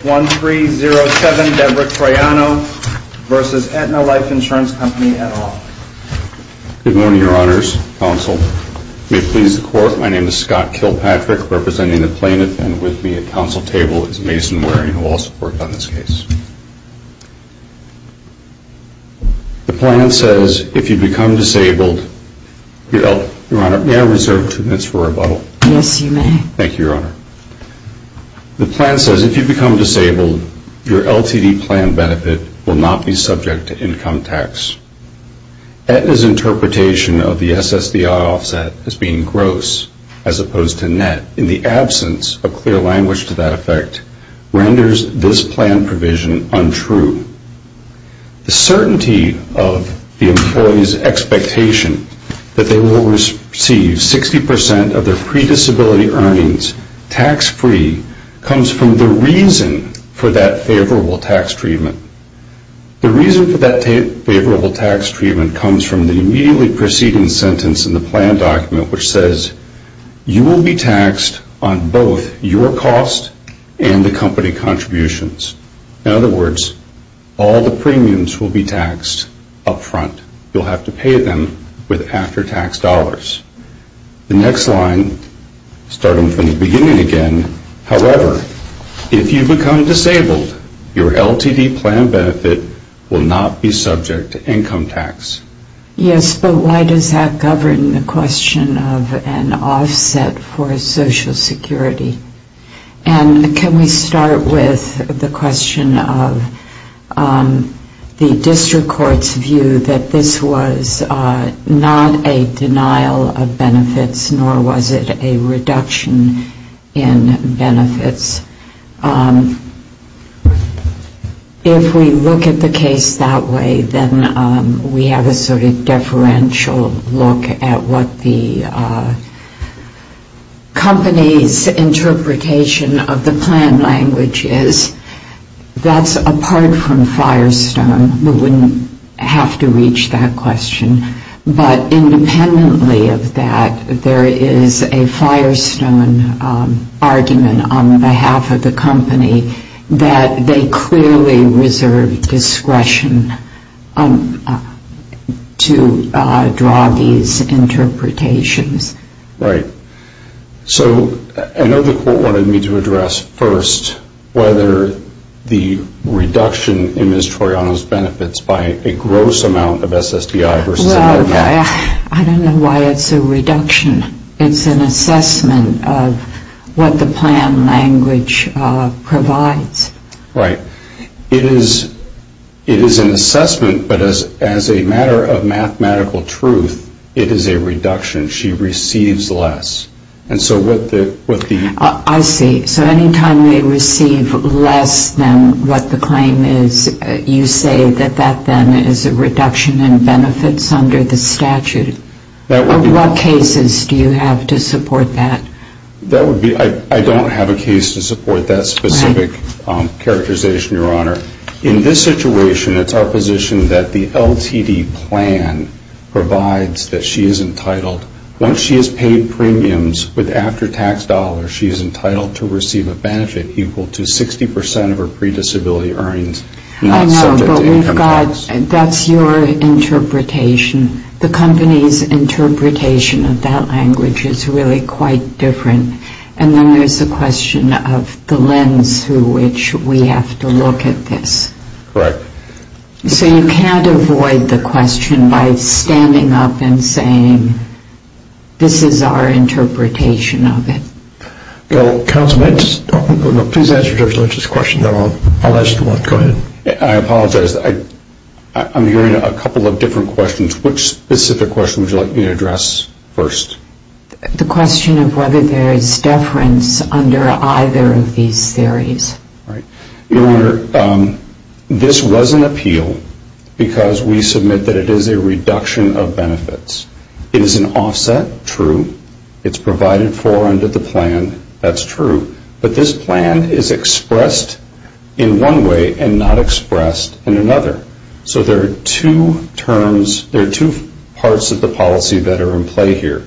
Good morning your honors, counsel. May it please the court, my name is Scott Kilpatrick representing the plaintiff and with me at counsel table is Mason Waring who will also work on this case. The plan says if you become disabled, your honor may I reserve two minutes for rebuttal? Yes you may. Thank you your honor. The plan says if you become disabled, your LTD plan benefit will not be subject to income tax. Aetna's interpretation of the SSDI offset as being gross as opposed to net in the absence of clear language to that effect renders this plan provision untrue. The certainty of the employee's expectation that they will receive 60% of their pre-disability earnings tax free comes from the reason for that favorable tax treatment. The reason for that favorable tax treatment comes from the immediately preceding sentence in the plan document which says you will be taxed on both your cost and the company contributions. In other words, all the premiums will be taxed up front. You'll have to pay them with after tax dollars. The next line, starting from the beginning again, however, if you become disabled, your LTD plan benefit will not be subject to income tax. Yes, but why does that govern the question of an offset for Social Security? And can we start with the question of the district court's view that this was not a denial of benefits nor was it a reduction in benefits? If we look at the case that way, then we have a sort of deferential look at what the company's interpretation of the plan language is. That's apart from Firestone. We wouldn't have to reach that question. But independently of that, there is a Firestone argument on behalf of the company that they clearly reserved discretion to draw these interpretations. Right. So I know the court wanted me to address first whether the reduction in Ms. Toriano's benefits by a gross amount of SSDI versus a net amount. Well, I don't know why it's a reduction. It's an assessment of what the plan language provides. Right. It is an assessment, but as a matter of mathematical truth, it is a reduction. She receives less. I see. So any time they receive less than what the claim is, you say that that then is a reduction in benefits under the statute. What cases do you have to support that? I don't have a case to support that specific characterization, Your Honor. In this situation, it's our position that the LTD plan provides that she is entitled, once she has paid premiums with after-tax dollars, she is entitled to receive a benefit equal to 60% of her pre-disability earnings. I know, but that's your interpretation. The company's interpretation of that language is really quite different. And then there's the question of the lens through which we have to look at this. Correct. So you can't avoid the question by standing up and saying, this is our interpretation of it. Counsel, please answer Judge Lynch's question. I apologize. I'm hearing a couple of different questions. Which specific question would you like me to address first? The question of whether there is deference under either of these theories. Your Honor, this was an appeal because we submit that it is a reduction of benefits. It is an offset, true. It's provided for under the plan. That's true. But this plan is expressed in one way and not expressed in another. So there are two terms, there are two parts of the policy that are in play here.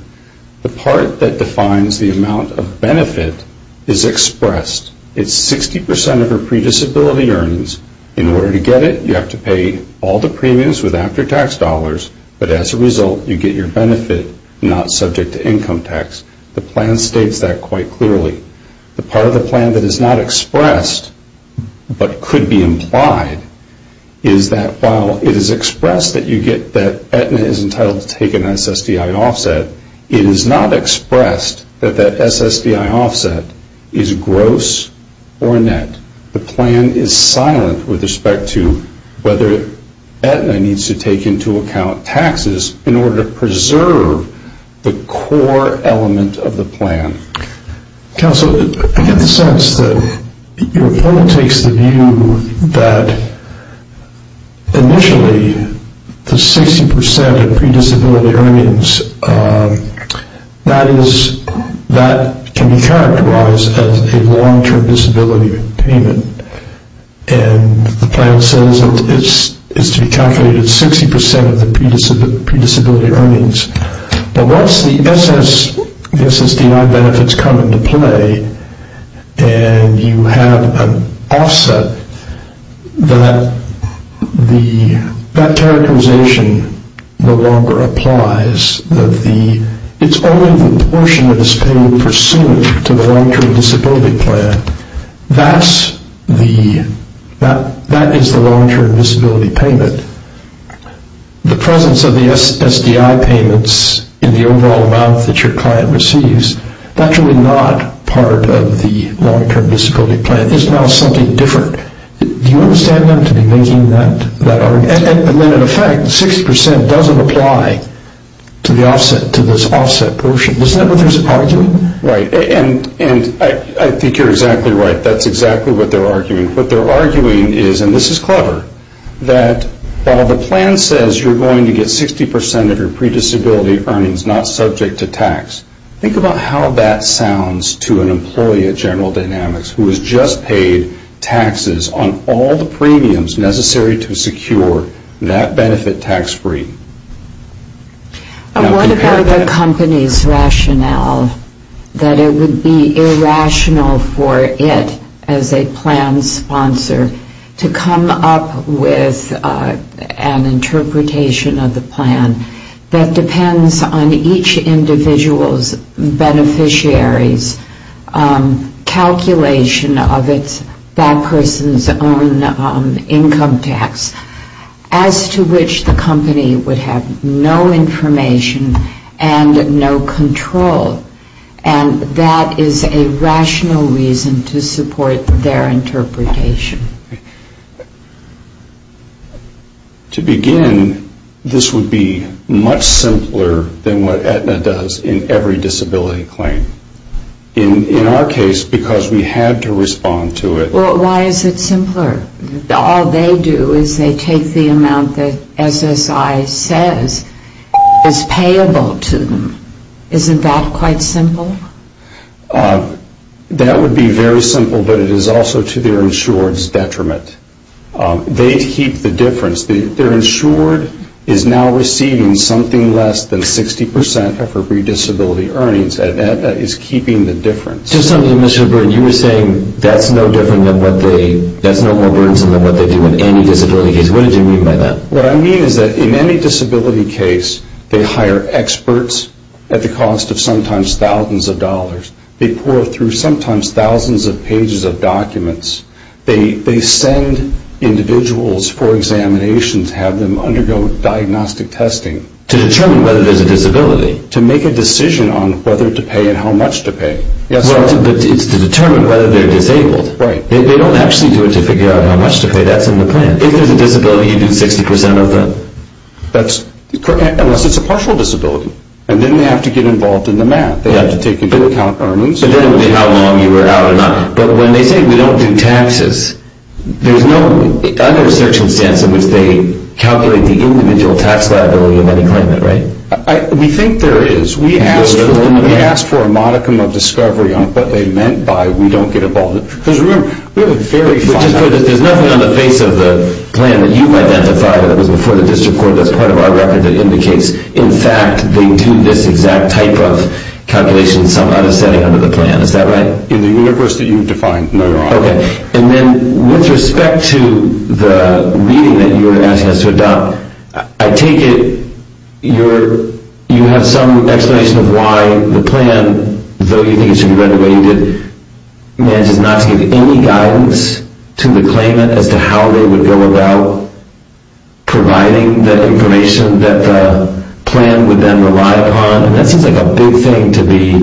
The part that defines the amount of benefit is expressed. It's 60% of her pre-disability earnings. In order to get it, you have to pay all the premiums with after-tax dollars. But as a result, you get your benefit not subject to income tax. The plan states that quite clearly. The part of the plan that is not expressed but could be implied is that while it is expressed that you get that Aetna is entitled to take an SSDI offset, it is not expressed that that SSDI offset is gross or net. The plan is silent with respect to whether Aetna needs to take into account taxes in order to preserve the core element of the plan. Counsel, I get the sense that your point takes the view that initially the 60% of pre-disability earnings, that can be characterized as a long-term disability payment. And the plan says that it's to be calculated 60% of the pre-disability earnings. But once the SSDI benefits come into play and you have an offset, that characterization no longer applies. It's only the portion that is paid pursuant to the long-term disability plan. That is the long-term disability payment. The presence of the SSDI payments in the overall amount that your client receives, is actually not part of the long-term disability plan. It's now something different. Do you understand them to be making that argument? In effect, 60% doesn't apply to this offset portion. Isn't that what they're arguing? I think you're exactly right. That's exactly what they're arguing. What they're arguing is, and this is clever, that while the plan says you're going to get 60% of your pre-disability earnings not subject to tax, think about how that sounds to an employee at General Dynamics who has just paid taxes on all the premiums necessary to secure that benefit tax-free. What about the company's rationale that it would be irrational for it, as a plan sponsor, to come up with an interpretation of the plan that depends on each individual's beneficiary's calculation of that person's own income tax, as to which the company would have no information and no control. And that is a rational reason to support their interpretation. To begin, this would be much simpler than what Aetna does in every disability claim. In our case, because we had to respond to it. Well, why is it simpler? All they do is they take the amount that SSI says is payable to them. Isn't that quite simple? That would be very simple, but it is also to their insured's detriment. They keep the difference. Their insured is now receiving something less than 60% of her pre-disability earnings. Aetna is keeping the difference. Just something, Mr. Byrne, you were saying that's no more burdensome than what they do in any disability case. What did you mean by that? What I mean is that in any disability case, they hire experts at the cost of sometimes thousands of dollars. They pour through sometimes thousands of pages of documents. They send individuals for examinations, have them undergo diagnostic testing. To determine whether there's a disability. To make a decision on whether to pay and how much to pay. It's to determine whether they're disabled. They don't actually do it to figure out how much to pay. That's in the plan. If there's a disability, you do 60% of them. Unless it's a partial disability. Then they have to get involved in the math. They have to take into account earnings. Then it would be how long you were out or not. When they say we don't do taxes, there's no other circumstance in which they calculate the individual tax liability of any claimant, right? We think there is. We asked for a modicum of discovery on what they meant by we don't get involved. There's nothing on the face of the plan that you've identified that was before the district court. That's part of our record that indicates. In fact, they do this exact type of calculation in some other setting under the plan. Is that right? In the universe that you've defined, no. Okay. And then with respect to the reading that you were asking us to adopt, I take it you have some explanation of why the plan, though you think it should be read the way you did, manages not to give any guidance to the claimant as to how they would go about providing the information that the plan would then rely upon. And that seems like a big thing to be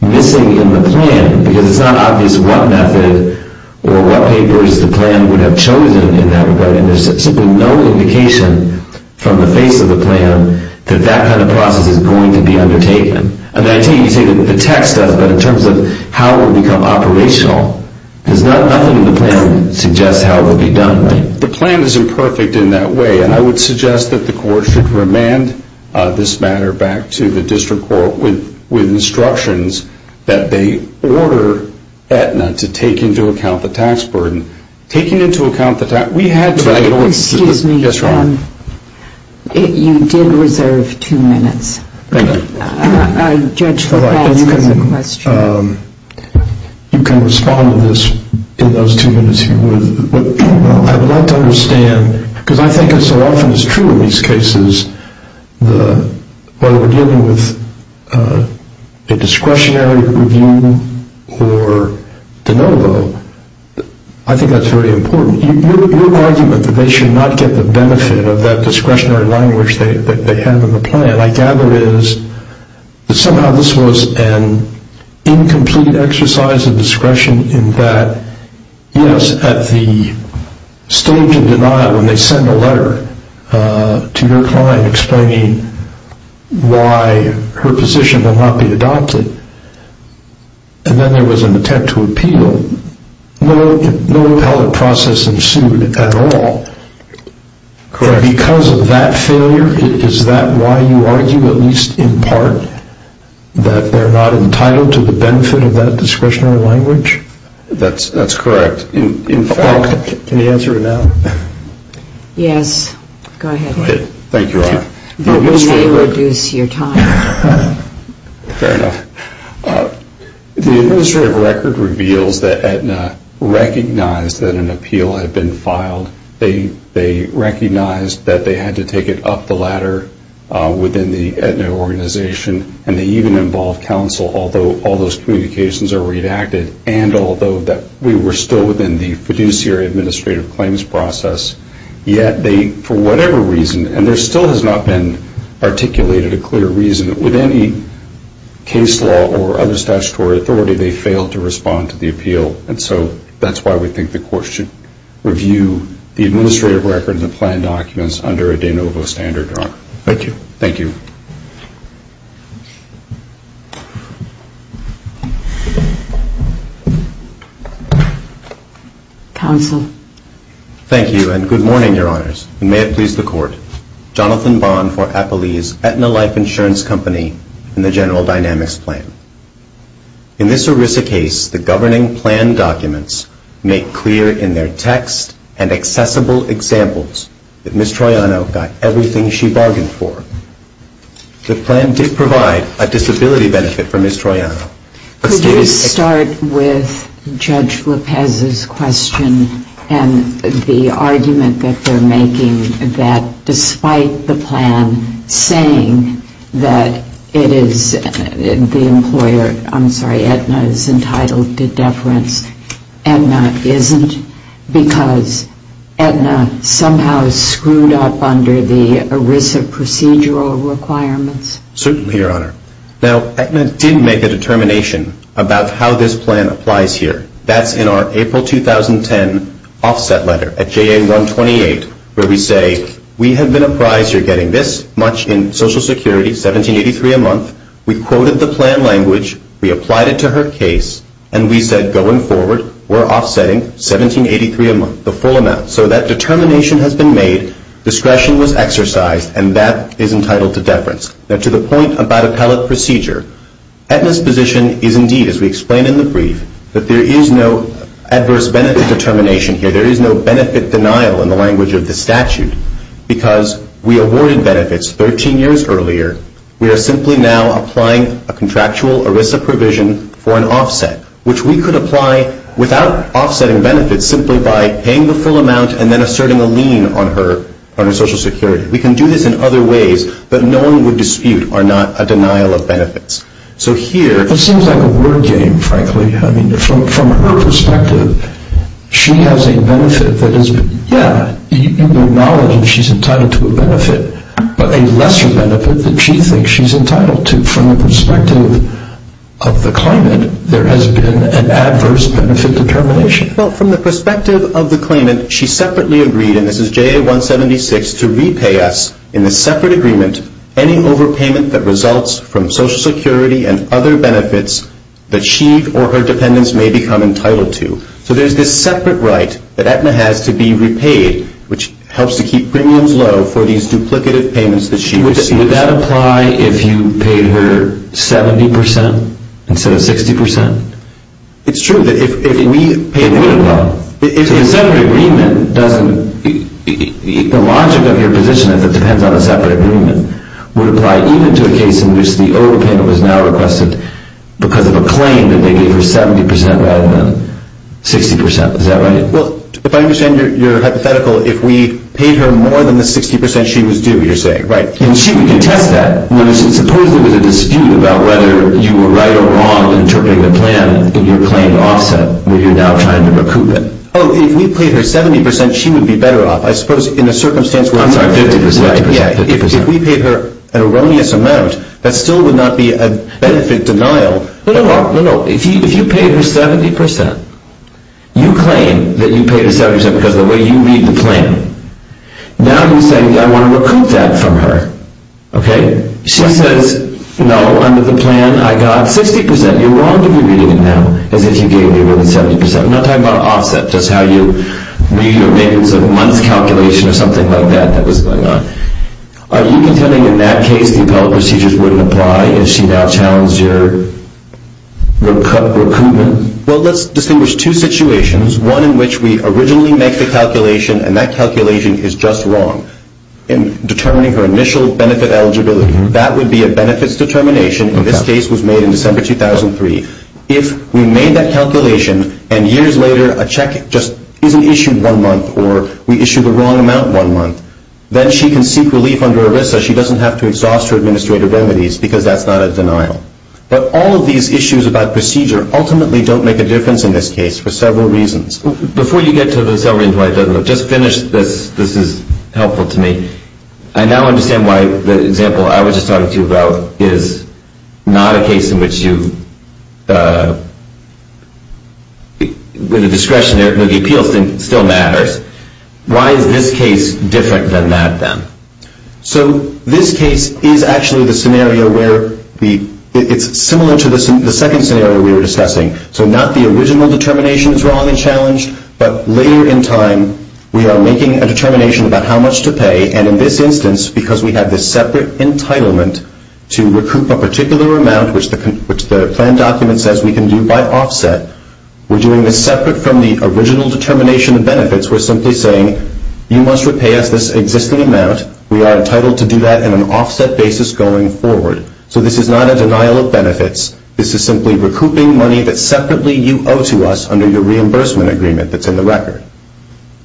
missing in the plan. Because it's not obvious what method or what papers the plan would have chosen in that regard. And there's simply no indication from the face of the plan that that kind of process is going to be undertaken. I take it you say that the text does, but in terms of how it would become operational, there's nothing in the plan that suggests how it would be done. The plan isn't perfect in that way. And I would suggest that the court should remand this matter back to the district court with instructions that they order Aetna to take into account the tax burden. Taking into account the tax burden, we had to. Excuse me. Yes, Your Honor. You did reserve two minutes. Thank you. A judge has a question. You can respond to this in those two minutes if you would. I would like to understand, because I think it so often is true in these cases, whether we're dealing with a discretionary review or de novo, I think that's very important. Your argument that they should not get the benefit of that discretionary language that they have in the plan, and I gather is that somehow this was an incomplete exercise of discretion in that, yes, at the stage of denial when they send a letter to their client explaining why her position will not be adopted, and then there was an attempt to appeal, no appellate process ensued at all. Correct. Because of that failure, is that why you argue at least in part that they're not entitled to the benefit of that discretionary language? That's correct. Can you answer it now? Yes. Go ahead. Thank you, Your Honor. We may reduce your time. Fair enough. The administrative record reveals that Aetna recognized that an appeal had been filed. They recognized that they had to take it up the ladder within the Aetna organization, and they even involved counsel, although all those communications are redacted, and although we were still within the fiduciary administrative claims process, yet they, for whatever reason, and there still has not been articulated a clear reason, with any case law or other statutory authority, they failed to respond to the appeal. And so that's why we think the Court should review the administrative records and plan documents under a de novo standard, Your Honor. Thank you. Thank you. Counsel. Thank you, and good morning, Your Honors. And may it please the Court, Jonathan Bond for Apellee's Aetna Life Insurance Company in the General Dynamics Plan. In this ERISA case, the governing plan documents make clear in their text and accessible examples that Ms. Troiano got everything she bargained for. The plan did provide a disability benefit for Ms. Troiano. Could you start with Judge Lopez's question and the argument that they're making that despite the plan saying that it is the employer, I'm sorry, Aetna is entitled to deference, Aetna isn't because Aetna somehow screwed up under the ERISA procedural requirements? Certainly, Your Honor. Now, Aetna did make a determination about how this plan applies here. That's in our April 2010 offset letter at JA-128 where we say, we have been apprised you're getting this much in Social Security, $17.83 a month. We quoted the plan language, we applied it to her case, and we said going forward, we're offsetting $17.83 a month, the full amount. So that determination has been made, discretion was exercised, and that is entitled to deference. Now, to the point about appellate procedure, Aetna's position is indeed, as we explain in the brief, that there is no adverse benefit determination here. There is no benefit denial in the language of the statute because we awarded benefits 13 years earlier. We are simply now applying a contractual ERISA provision for an offset, which we could apply without offsetting benefits simply by paying the full amount and then asserting a lien on her Social Security. We can do this in other ways, but no one would dispute or not a denial of benefits. So here... It seems like a word game, frankly. I mean, from her perspective, she has a benefit that is, yeah, you acknowledge she's entitled to a benefit, but a lesser benefit that she thinks she's entitled to. From the perspective of the claimant, there has been an adverse benefit determination. Well, from the perspective of the claimant, she separately agreed, and this is JA 176, to repay us in the separate agreement any overpayment that results from Social Security and other benefits that she or her dependents may become entitled to. So there's this separate right that Aetna has to be repaid, which helps to keep premiums low for these duplicative payments that she receives. Would that apply if you paid her 70% instead of 60%? It's true. It would apply. If the separate agreement doesn't... The logic of your position is it depends on a separate agreement. Would it apply even to a case in which the overpayment was now requested because of a claim that they gave her 70% rather than 60%, is that right? Well, if I understand your hypothetical, if we paid her more than the 60%, she was due, you're saying, right? And she would contest that. Supposed there was a dispute about whether you were right or wrong in interpreting the plan in your claim offset, where you're now trying to recoup it. Oh, if we paid her 70%, she would be better off. I suppose in a circumstance where... I'm sorry, 50%. If we paid her an erroneous amount, that still would not be a benefit denial. No, no. If you paid her 70%, you claim that you paid her 70% because of the way you read the plan. Now you're saying, I want to recoup that from her. Okay. She says, no, under the plan I got 60%. You're wrong to be reading it now as if you gave me more than 70%. I'm not talking about an offset, just how you read your maintenance of a month's calculation or something like that that was going on. Are you contending in that case the appellate procedures wouldn't apply if she now challenged your recoupment? Well, let's distinguish two situations, one in which we originally make the calculation and that calculation is just wrong in determining her initial benefit eligibility. That would be a benefits determination. This case was made in December 2003. If we made that calculation and years later a check just isn't issued one month or we issue the wrong amount one month, then she can seek relief under ERISA. She doesn't have to exhaust her administrative remedies because that's not a denial. But all of these issues about procedure ultimately don't make a difference in this case for several reasons. Before you get to the several reasons why it doesn't work, just finish this. This is helpful to me. I now understand why the example I was just talking to you about is not a case in which you, with the discretion of the appeals team, still matters. Why is this case different than that then? So this case is actually the scenario where it's similar to the second scenario we were discussing. So not the original determination is wrong and challenged, but later in time we are making a determination about how much to pay. And in this instance, because we have this separate entitlement to recoup a particular amount, which the plan document says we can do by offset, we're doing this separate from the original determination of benefits. We're simply saying you must repay us this existing amount. We are entitled to do that in an offset basis going forward. So this is not a denial of benefits. This is simply recouping money that separately you owe to us under your reimbursement agreement that's in the record.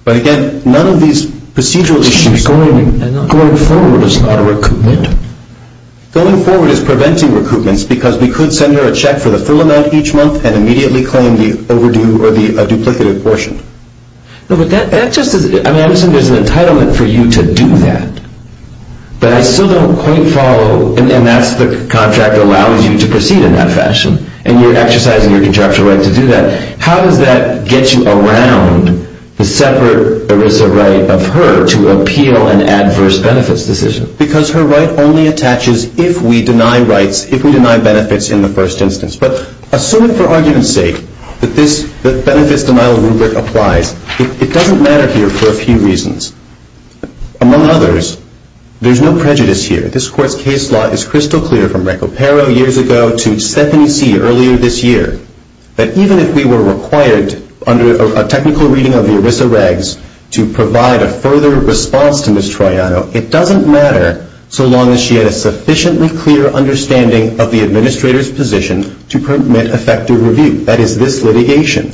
But, again, none of these procedural issues. Going forward is not a recoupment. Going forward is preventing recoupments because we could send her a check for the full amount each month and immediately claim the overdue or the duplicative portion. No, but that just is – I mean, listen, there's an entitlement for you to do that. But I still don't quite follow – and that's the contract that allows you to proceed in that fashion. And you're exercising your contractual right to do that. How does that get you around the separate ERISA right of her to appeal an adverse benefits decision? Because her right only attaches if we deny rights, if we deny benefits in the first instance. But assume it for argument's sake that this benefits denial rubric applies. It doesn't matter here for a few reasons. Among others, there's no prejudice here. This Court's case law is crystal clear from Recupero years ago to Stephanie C. earlier this year that even if we were required under a technical reading of the ERISA regs to provide a further response to Ms. Troiano, it doesn't matter so long as she had a sufficiently clear understanding of the administrator's position to permit effective review. That is, this litigation.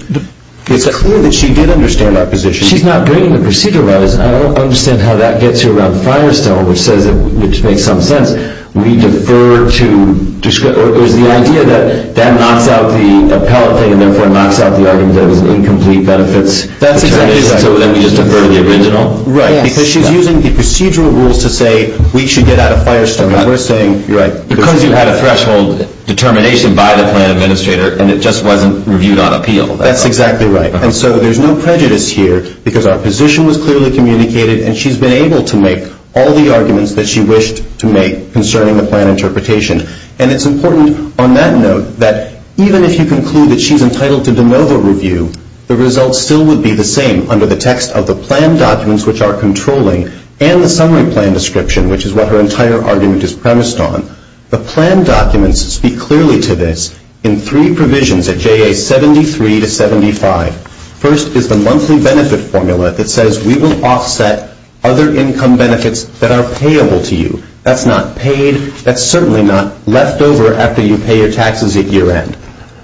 It's clear that she did understand our position. But if she's not doing the procedure right, I don't understand how that gets you around Firestone, which makes some sense. We defer to – or is the idea that that knocks out the appellate thing and therefore knocks out the argument that it was an incomplete benefits determination? So then we just defer to the original? Right, because she's using the procedural rules to say we should get out of Firestone. We're saying – Because you had a threshold determination by the plan administrator and it just wasn't reviewed on appeal. That's exactly right. And so there's no prejudice here because our position was clearly communicated and she's been able to make all the arguments that she wished to make concerning the plan interpretation. And it's important on that note that even if you conclude that she's entitled to de novo review, the results still would be the same under the text of the plan documents, which are controlling, and the summary plan description, which is what her entire argument is premised on. The plan documents speak clearly to this in three provisions at JA 73 to 75. First is the monthly benefit formula that says we will offset other income benefits that are payable to you. That's not paid. That's certainly not left over after you pay your taxes at year end.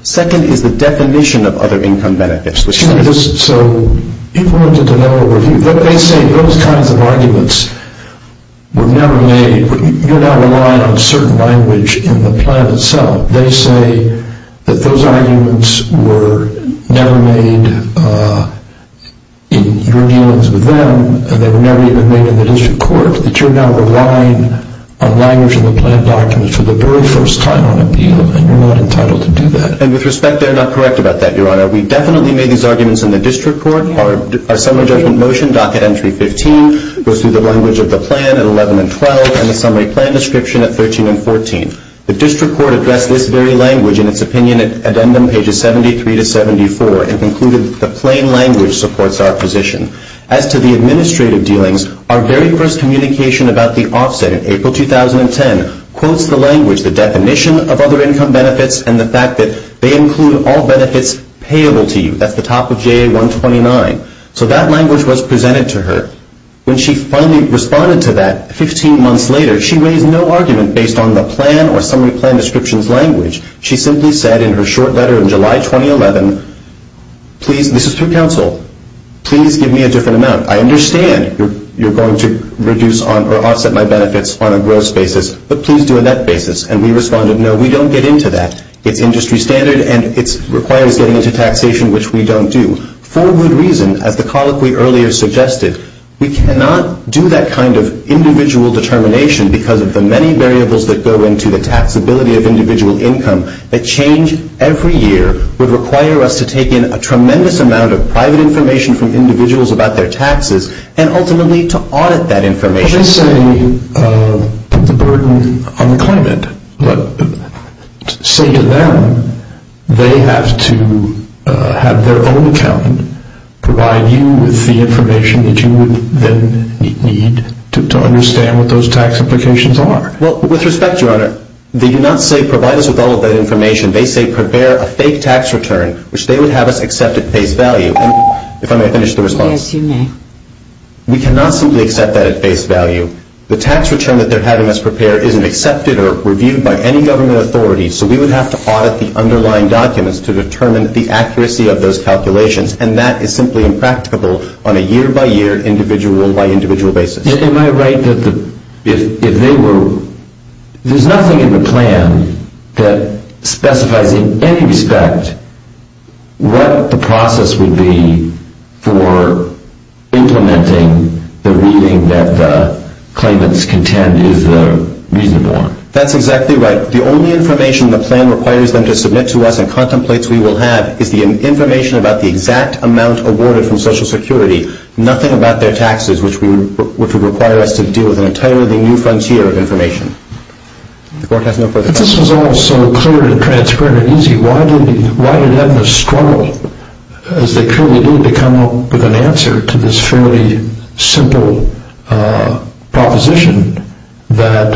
Second is the definition of other income benefits. So if we're to de novo review, they say those kinds of arguments were never made. You're now relying on certain language in the plan itself. They say that those arguments were never made in your dealings with them and they were never even made in the district court, that you're now relying on language in the plan documents for the very first time on appeal and you're not entitled to do that. And with respect, they're not correct about that, Your Honor. We definitely made these arguments in the district court. Our summary judgment motion, docket entry 15, goes through the language of the plan at 11 and 12 and the summary plan description at 13 and 14. The district court addressed this very language in its opinion at addendum pages 73 to 74 and concluded that the plain language supports our position. As to the administrative dealings, our very first communication about the offset in April 2010 quotes the language, the definition of other income benefits, and the fact that they include all benefits payable to you. That's the top of JA 129. So that language was presented to her. When she finally responded to that 15 months later, she raised no argument based on the plan or summary plan descriptions language. She simply said in her short letter in July 2011, please, this is through counsel, please give me a different amount. I understand you're going to reduce or offset my benefits on a gross basis, but please do it on that basis. And we responded, no, we don't get into that. It's industry standard and it requires getting into taxation, which we don't do. For good reason, as the colloquy earlier suggested, we cannot do that kind of individual determination because of the many variables that go into the taxability of individual income. The change every year would require us to take in a tremendous amount of private information from individuals about their taxes and ultimately to audit that information. Well, they say put the burden on the claimant, but say to them they have to have their own accountant provide you with the information that you would then need to understand what those tax implications are. Well, with respect, Your Honor, they do not say provide us with all of that information. They say prepare a fake tax return, which they would have us accept at face value. If I may finish the response. Yes, you may. We cannot simply accept that at face value. The tax return that they're having us prepare isn't accepted or reviewed by any government authority, so we would have to audit the underlying documents to determine the accuracy of those calculations, and that is simply impracticable on a year-by-year, individual-by-individual basis. Am I right that if they were... There's nothing in the plan that specifies in any respect what the process would be for implementing the reading that the claimants contend is reasonable. That's exactly right. The only information the plan requires them to submit to us and contemplates we will have is the information about the exact amount awarded from Social Security, nothing about their taxes, which would require us to deal with an entirely new frontier of information. The Court has no further comments. But this was all so clear and transparent and easy. Why did Edna struggle, as they clearly did, to come up with an answer to this fairly simple proposition that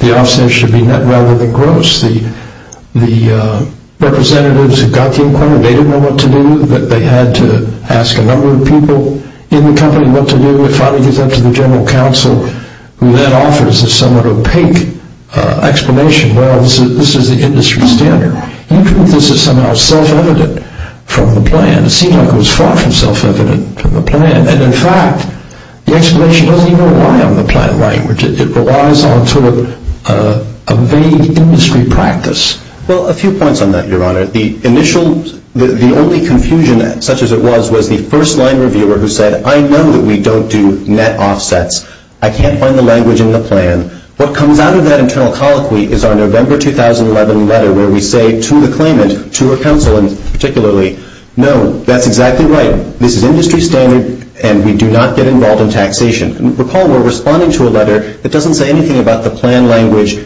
the offset should be net rather than gross? The representatives who got the inquiry, they didn't know what to do. They had to ask a number of people in the company what to do. It finally goes up to the General Counsel, who then offers a somewhat opaque explanation. Well, this is the industry standard. You prove this is somehow self-evident from the plan. It seems like it was far from self-evident from the plan, and in fact the explanation doesn't even rely on the plan language. It relies on sort of a vague industry practice. Well, a few points on that, Your Honor. The initial, the only confusion, such as it was, was the first-line reviewer who said, I know that we don't do net offsets. I can't find the language in the plan. What comes out of that internal colloquy is our November 2011 letter where we say to the claimant, to her counsel particularly, no, that's exactly right. This is industry standard, and we do not get involved in taxation. Recall we're responding to a letter that doesn't say anything about the plan language,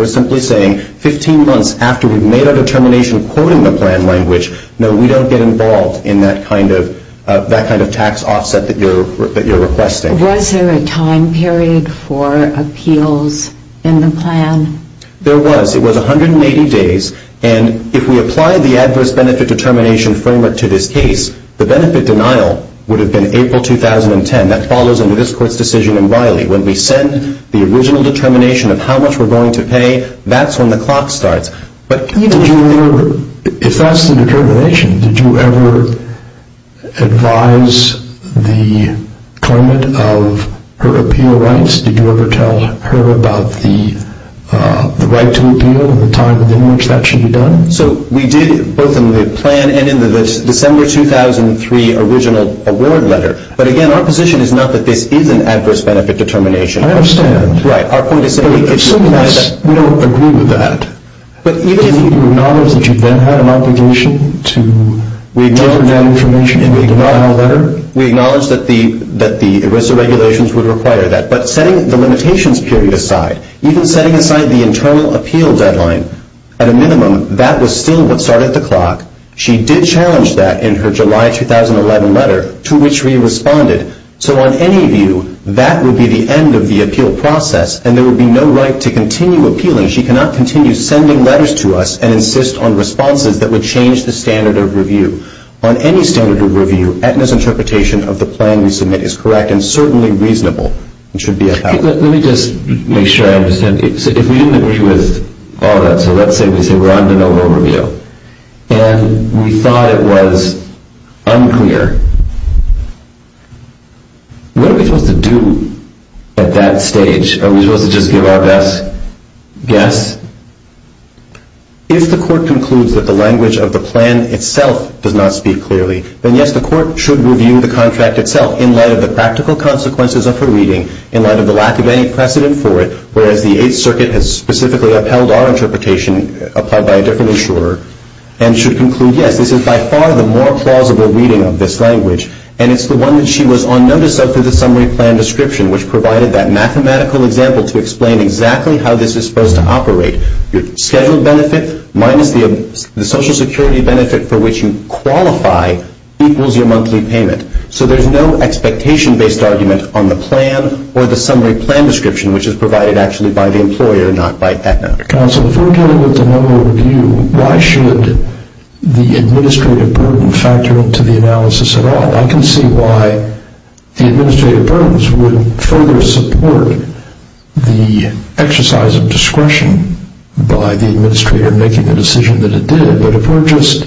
We're simply saying 15 months after we've made our determination quoting the plan language, no, we don't get involved in that kind of tax offset that you're requesting. Was there a time period for appeals in the plan? There was. It was 180 days, and if we apply the adverse benefit determination framework to this case, the benefit denial would have been April 2010. That follows under this Court's decision in Riley. When we send the original determination of how much we're going to pay, that's when the clock starts. Did you ever, if that's the determination, did you ever advise the claimant of her appeal rights? Did you ever tell her about the right to appeal and the time within which that should be done? So we did both in the plan and in the December 2003 original award letter. But, again, our position is not that this is an adverse benefit determination. I understand. Right. Our point is simply that we don't agree with that. Did you acknowledge that you then had an obligation to deliver that information in the denial letter? We acknowledged that the ERISA regulations would require that. But setting the limitations period aside, even setting aside the internal appeal deadline, at a minimum, that was still what started the clock. She did challenge that in her July 2011 letter, to which we responded. So on any view, that would be the end of the appeal process, and there would be no right to continue appealing. She cannot continue sending letters to us and insist on responses that would change the standard of review. On any standard of review, Aetna's interpretation of the plan we submit is correct and certainly reasonable. It should be adopted. Let me just make sure I understand. If we didn't agree with all of that, so let's say we say we're on the no vote review, and we thought it was unclear, what are we supposed to do at that stage? Are we supposed to just give our best guess? If the court concludes that the language of the plan itself does not speak clearly, then, yes, the court should review the contract itself in light of the practical consequences of her reading, in light of the lack of any precedent for it, whereas the Eighth Circuit has specifically upheld our interpretation applied by a different insurer, and should conclude, yes, this is by far the more plausible reading of this language, and it's the one that she was on notice of through the summary plan description, which provided that mathematical example to explain exactly how this is supposed to operate. Your scheduled benefit minus the Social Security benefit for which you qualify equals your monthly payment. So there's no expectation-based argument on the plan or the summary plan description, which is provided actually by the employer, not by FEDMAC. Counsel, if we're dealing with the no vote review, why should the administrative burden factor into the analysis at all? I can see why the administrative burdens would further support the exercise of discretion by the administrator making the decision that it did, but if we're just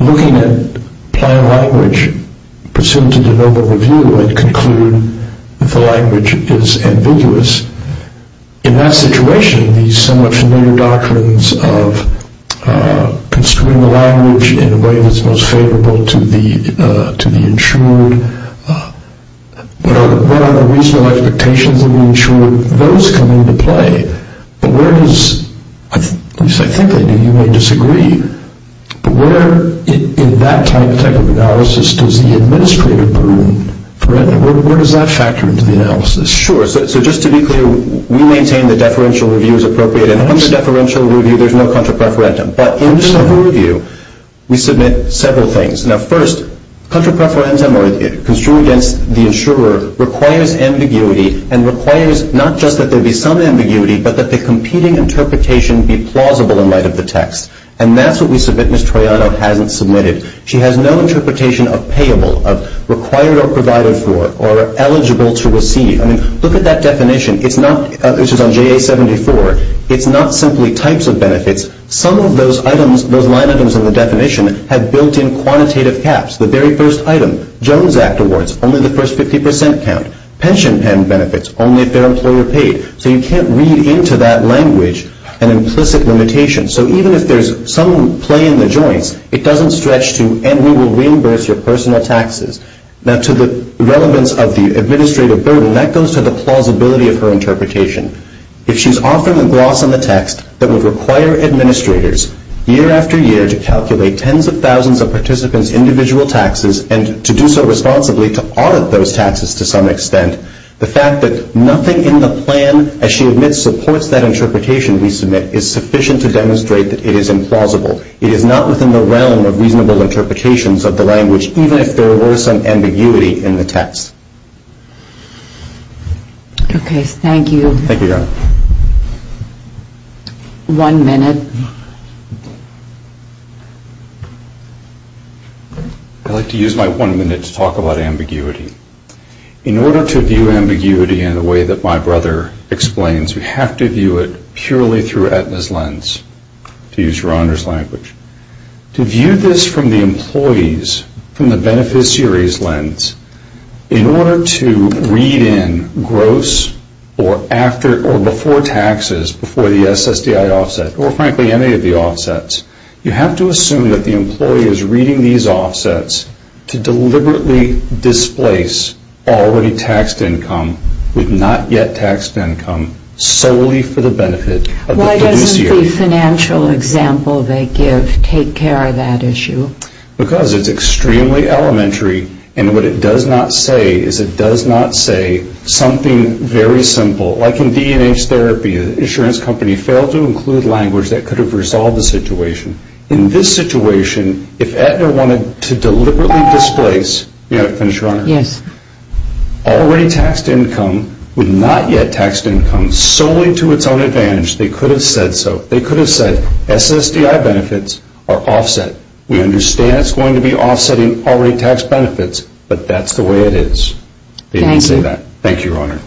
looking at plan language pursuant to the no vote review and conclude that the language is ambiguous, in that situation, these somewhat familiar doctrines of construing the language in a way that's most favorable to the insured, what are the reasonable expectations of the insured, those come into play, but where does, at least I think I do, you may disagree, but where in that type of analysis does the administrative burden threaten? Where does that factor into the analysis? Sure, so just to be clear, we maintain that deferential review is appropriate, and under deferential review, there's no contra preferentum. But in the no vote review, we submit several things. Now, first, contra preferentum or construing against the insurer requires ambiguity and requires not just that there be some ambiguity, but that the competing interpretation be plausible in light of the text, and that's what we submit. Ms. Troiano hasn't submitted. She has no interpretation of payable, of required or provided for, or eligible to receive. I mean, look at that definition. It's not, this is on JA-74, it's not simply types of benefits. Some of those items, those line items in the definition, have built-in quantitative caps. The very first item, Jones Act awards, only the first 50% count. Pension pen benefits, only if they're employer paid. So you can't read into that language an implicit limitation. So even if there's some play in the joints, it doesn't stretch to, and we will reimburse your personal taxes. Now, to the relevance of the administrative burden, that goes to the plausibility of her interpretation. If she's offering a gloss on the text that would require administrators, year after year, to calculate tens of thousands of participants' individual taxes and to do so responsibly to audit those taxes to some extent, the fact that nothing in the plan, as she admits, supports that interpretation we submit, is sufficient to demonstrate that it is implausible. It is not within the realm of reasonable interpretations of the language, even if there were some ambiguity in the text. Okay, thank you. Thank you, Your Honor. One minute. I'd like to use my one minute to talk about ambiguity. In order to view ambiguity in the way that my brother explains, we have to view it purely through Aetna's lens, to use your Honor's language. To view this from the employee's, from the beneficiary's lens, in order to read in gross or before taxes, before the SSDI offset, or frankly any of the offsets, you have to assume that the employee is reading these offsets to deliberately displace already taxed income with not yet taxed income, solely for the benefit of the beneficiary. Why doesn't the financial example they give take care of that issue? Because it's extremely elementary, and what it does not say is it does not say something very simple. Like in D&H therapy, the insurance company failed to include language that could have resolved the situation. In this situation, if Aetna wanted to deliberately displace, may I finish, Your Honor? Yes. Already taxed income with not yet taxed income solely to its own advantage, they could have said so. They could have said SSDI benefits are offset. We understand it's going to be offsetting already taxed benefits, but that's the way it is. They didn't say that. Thank you, Your Honor.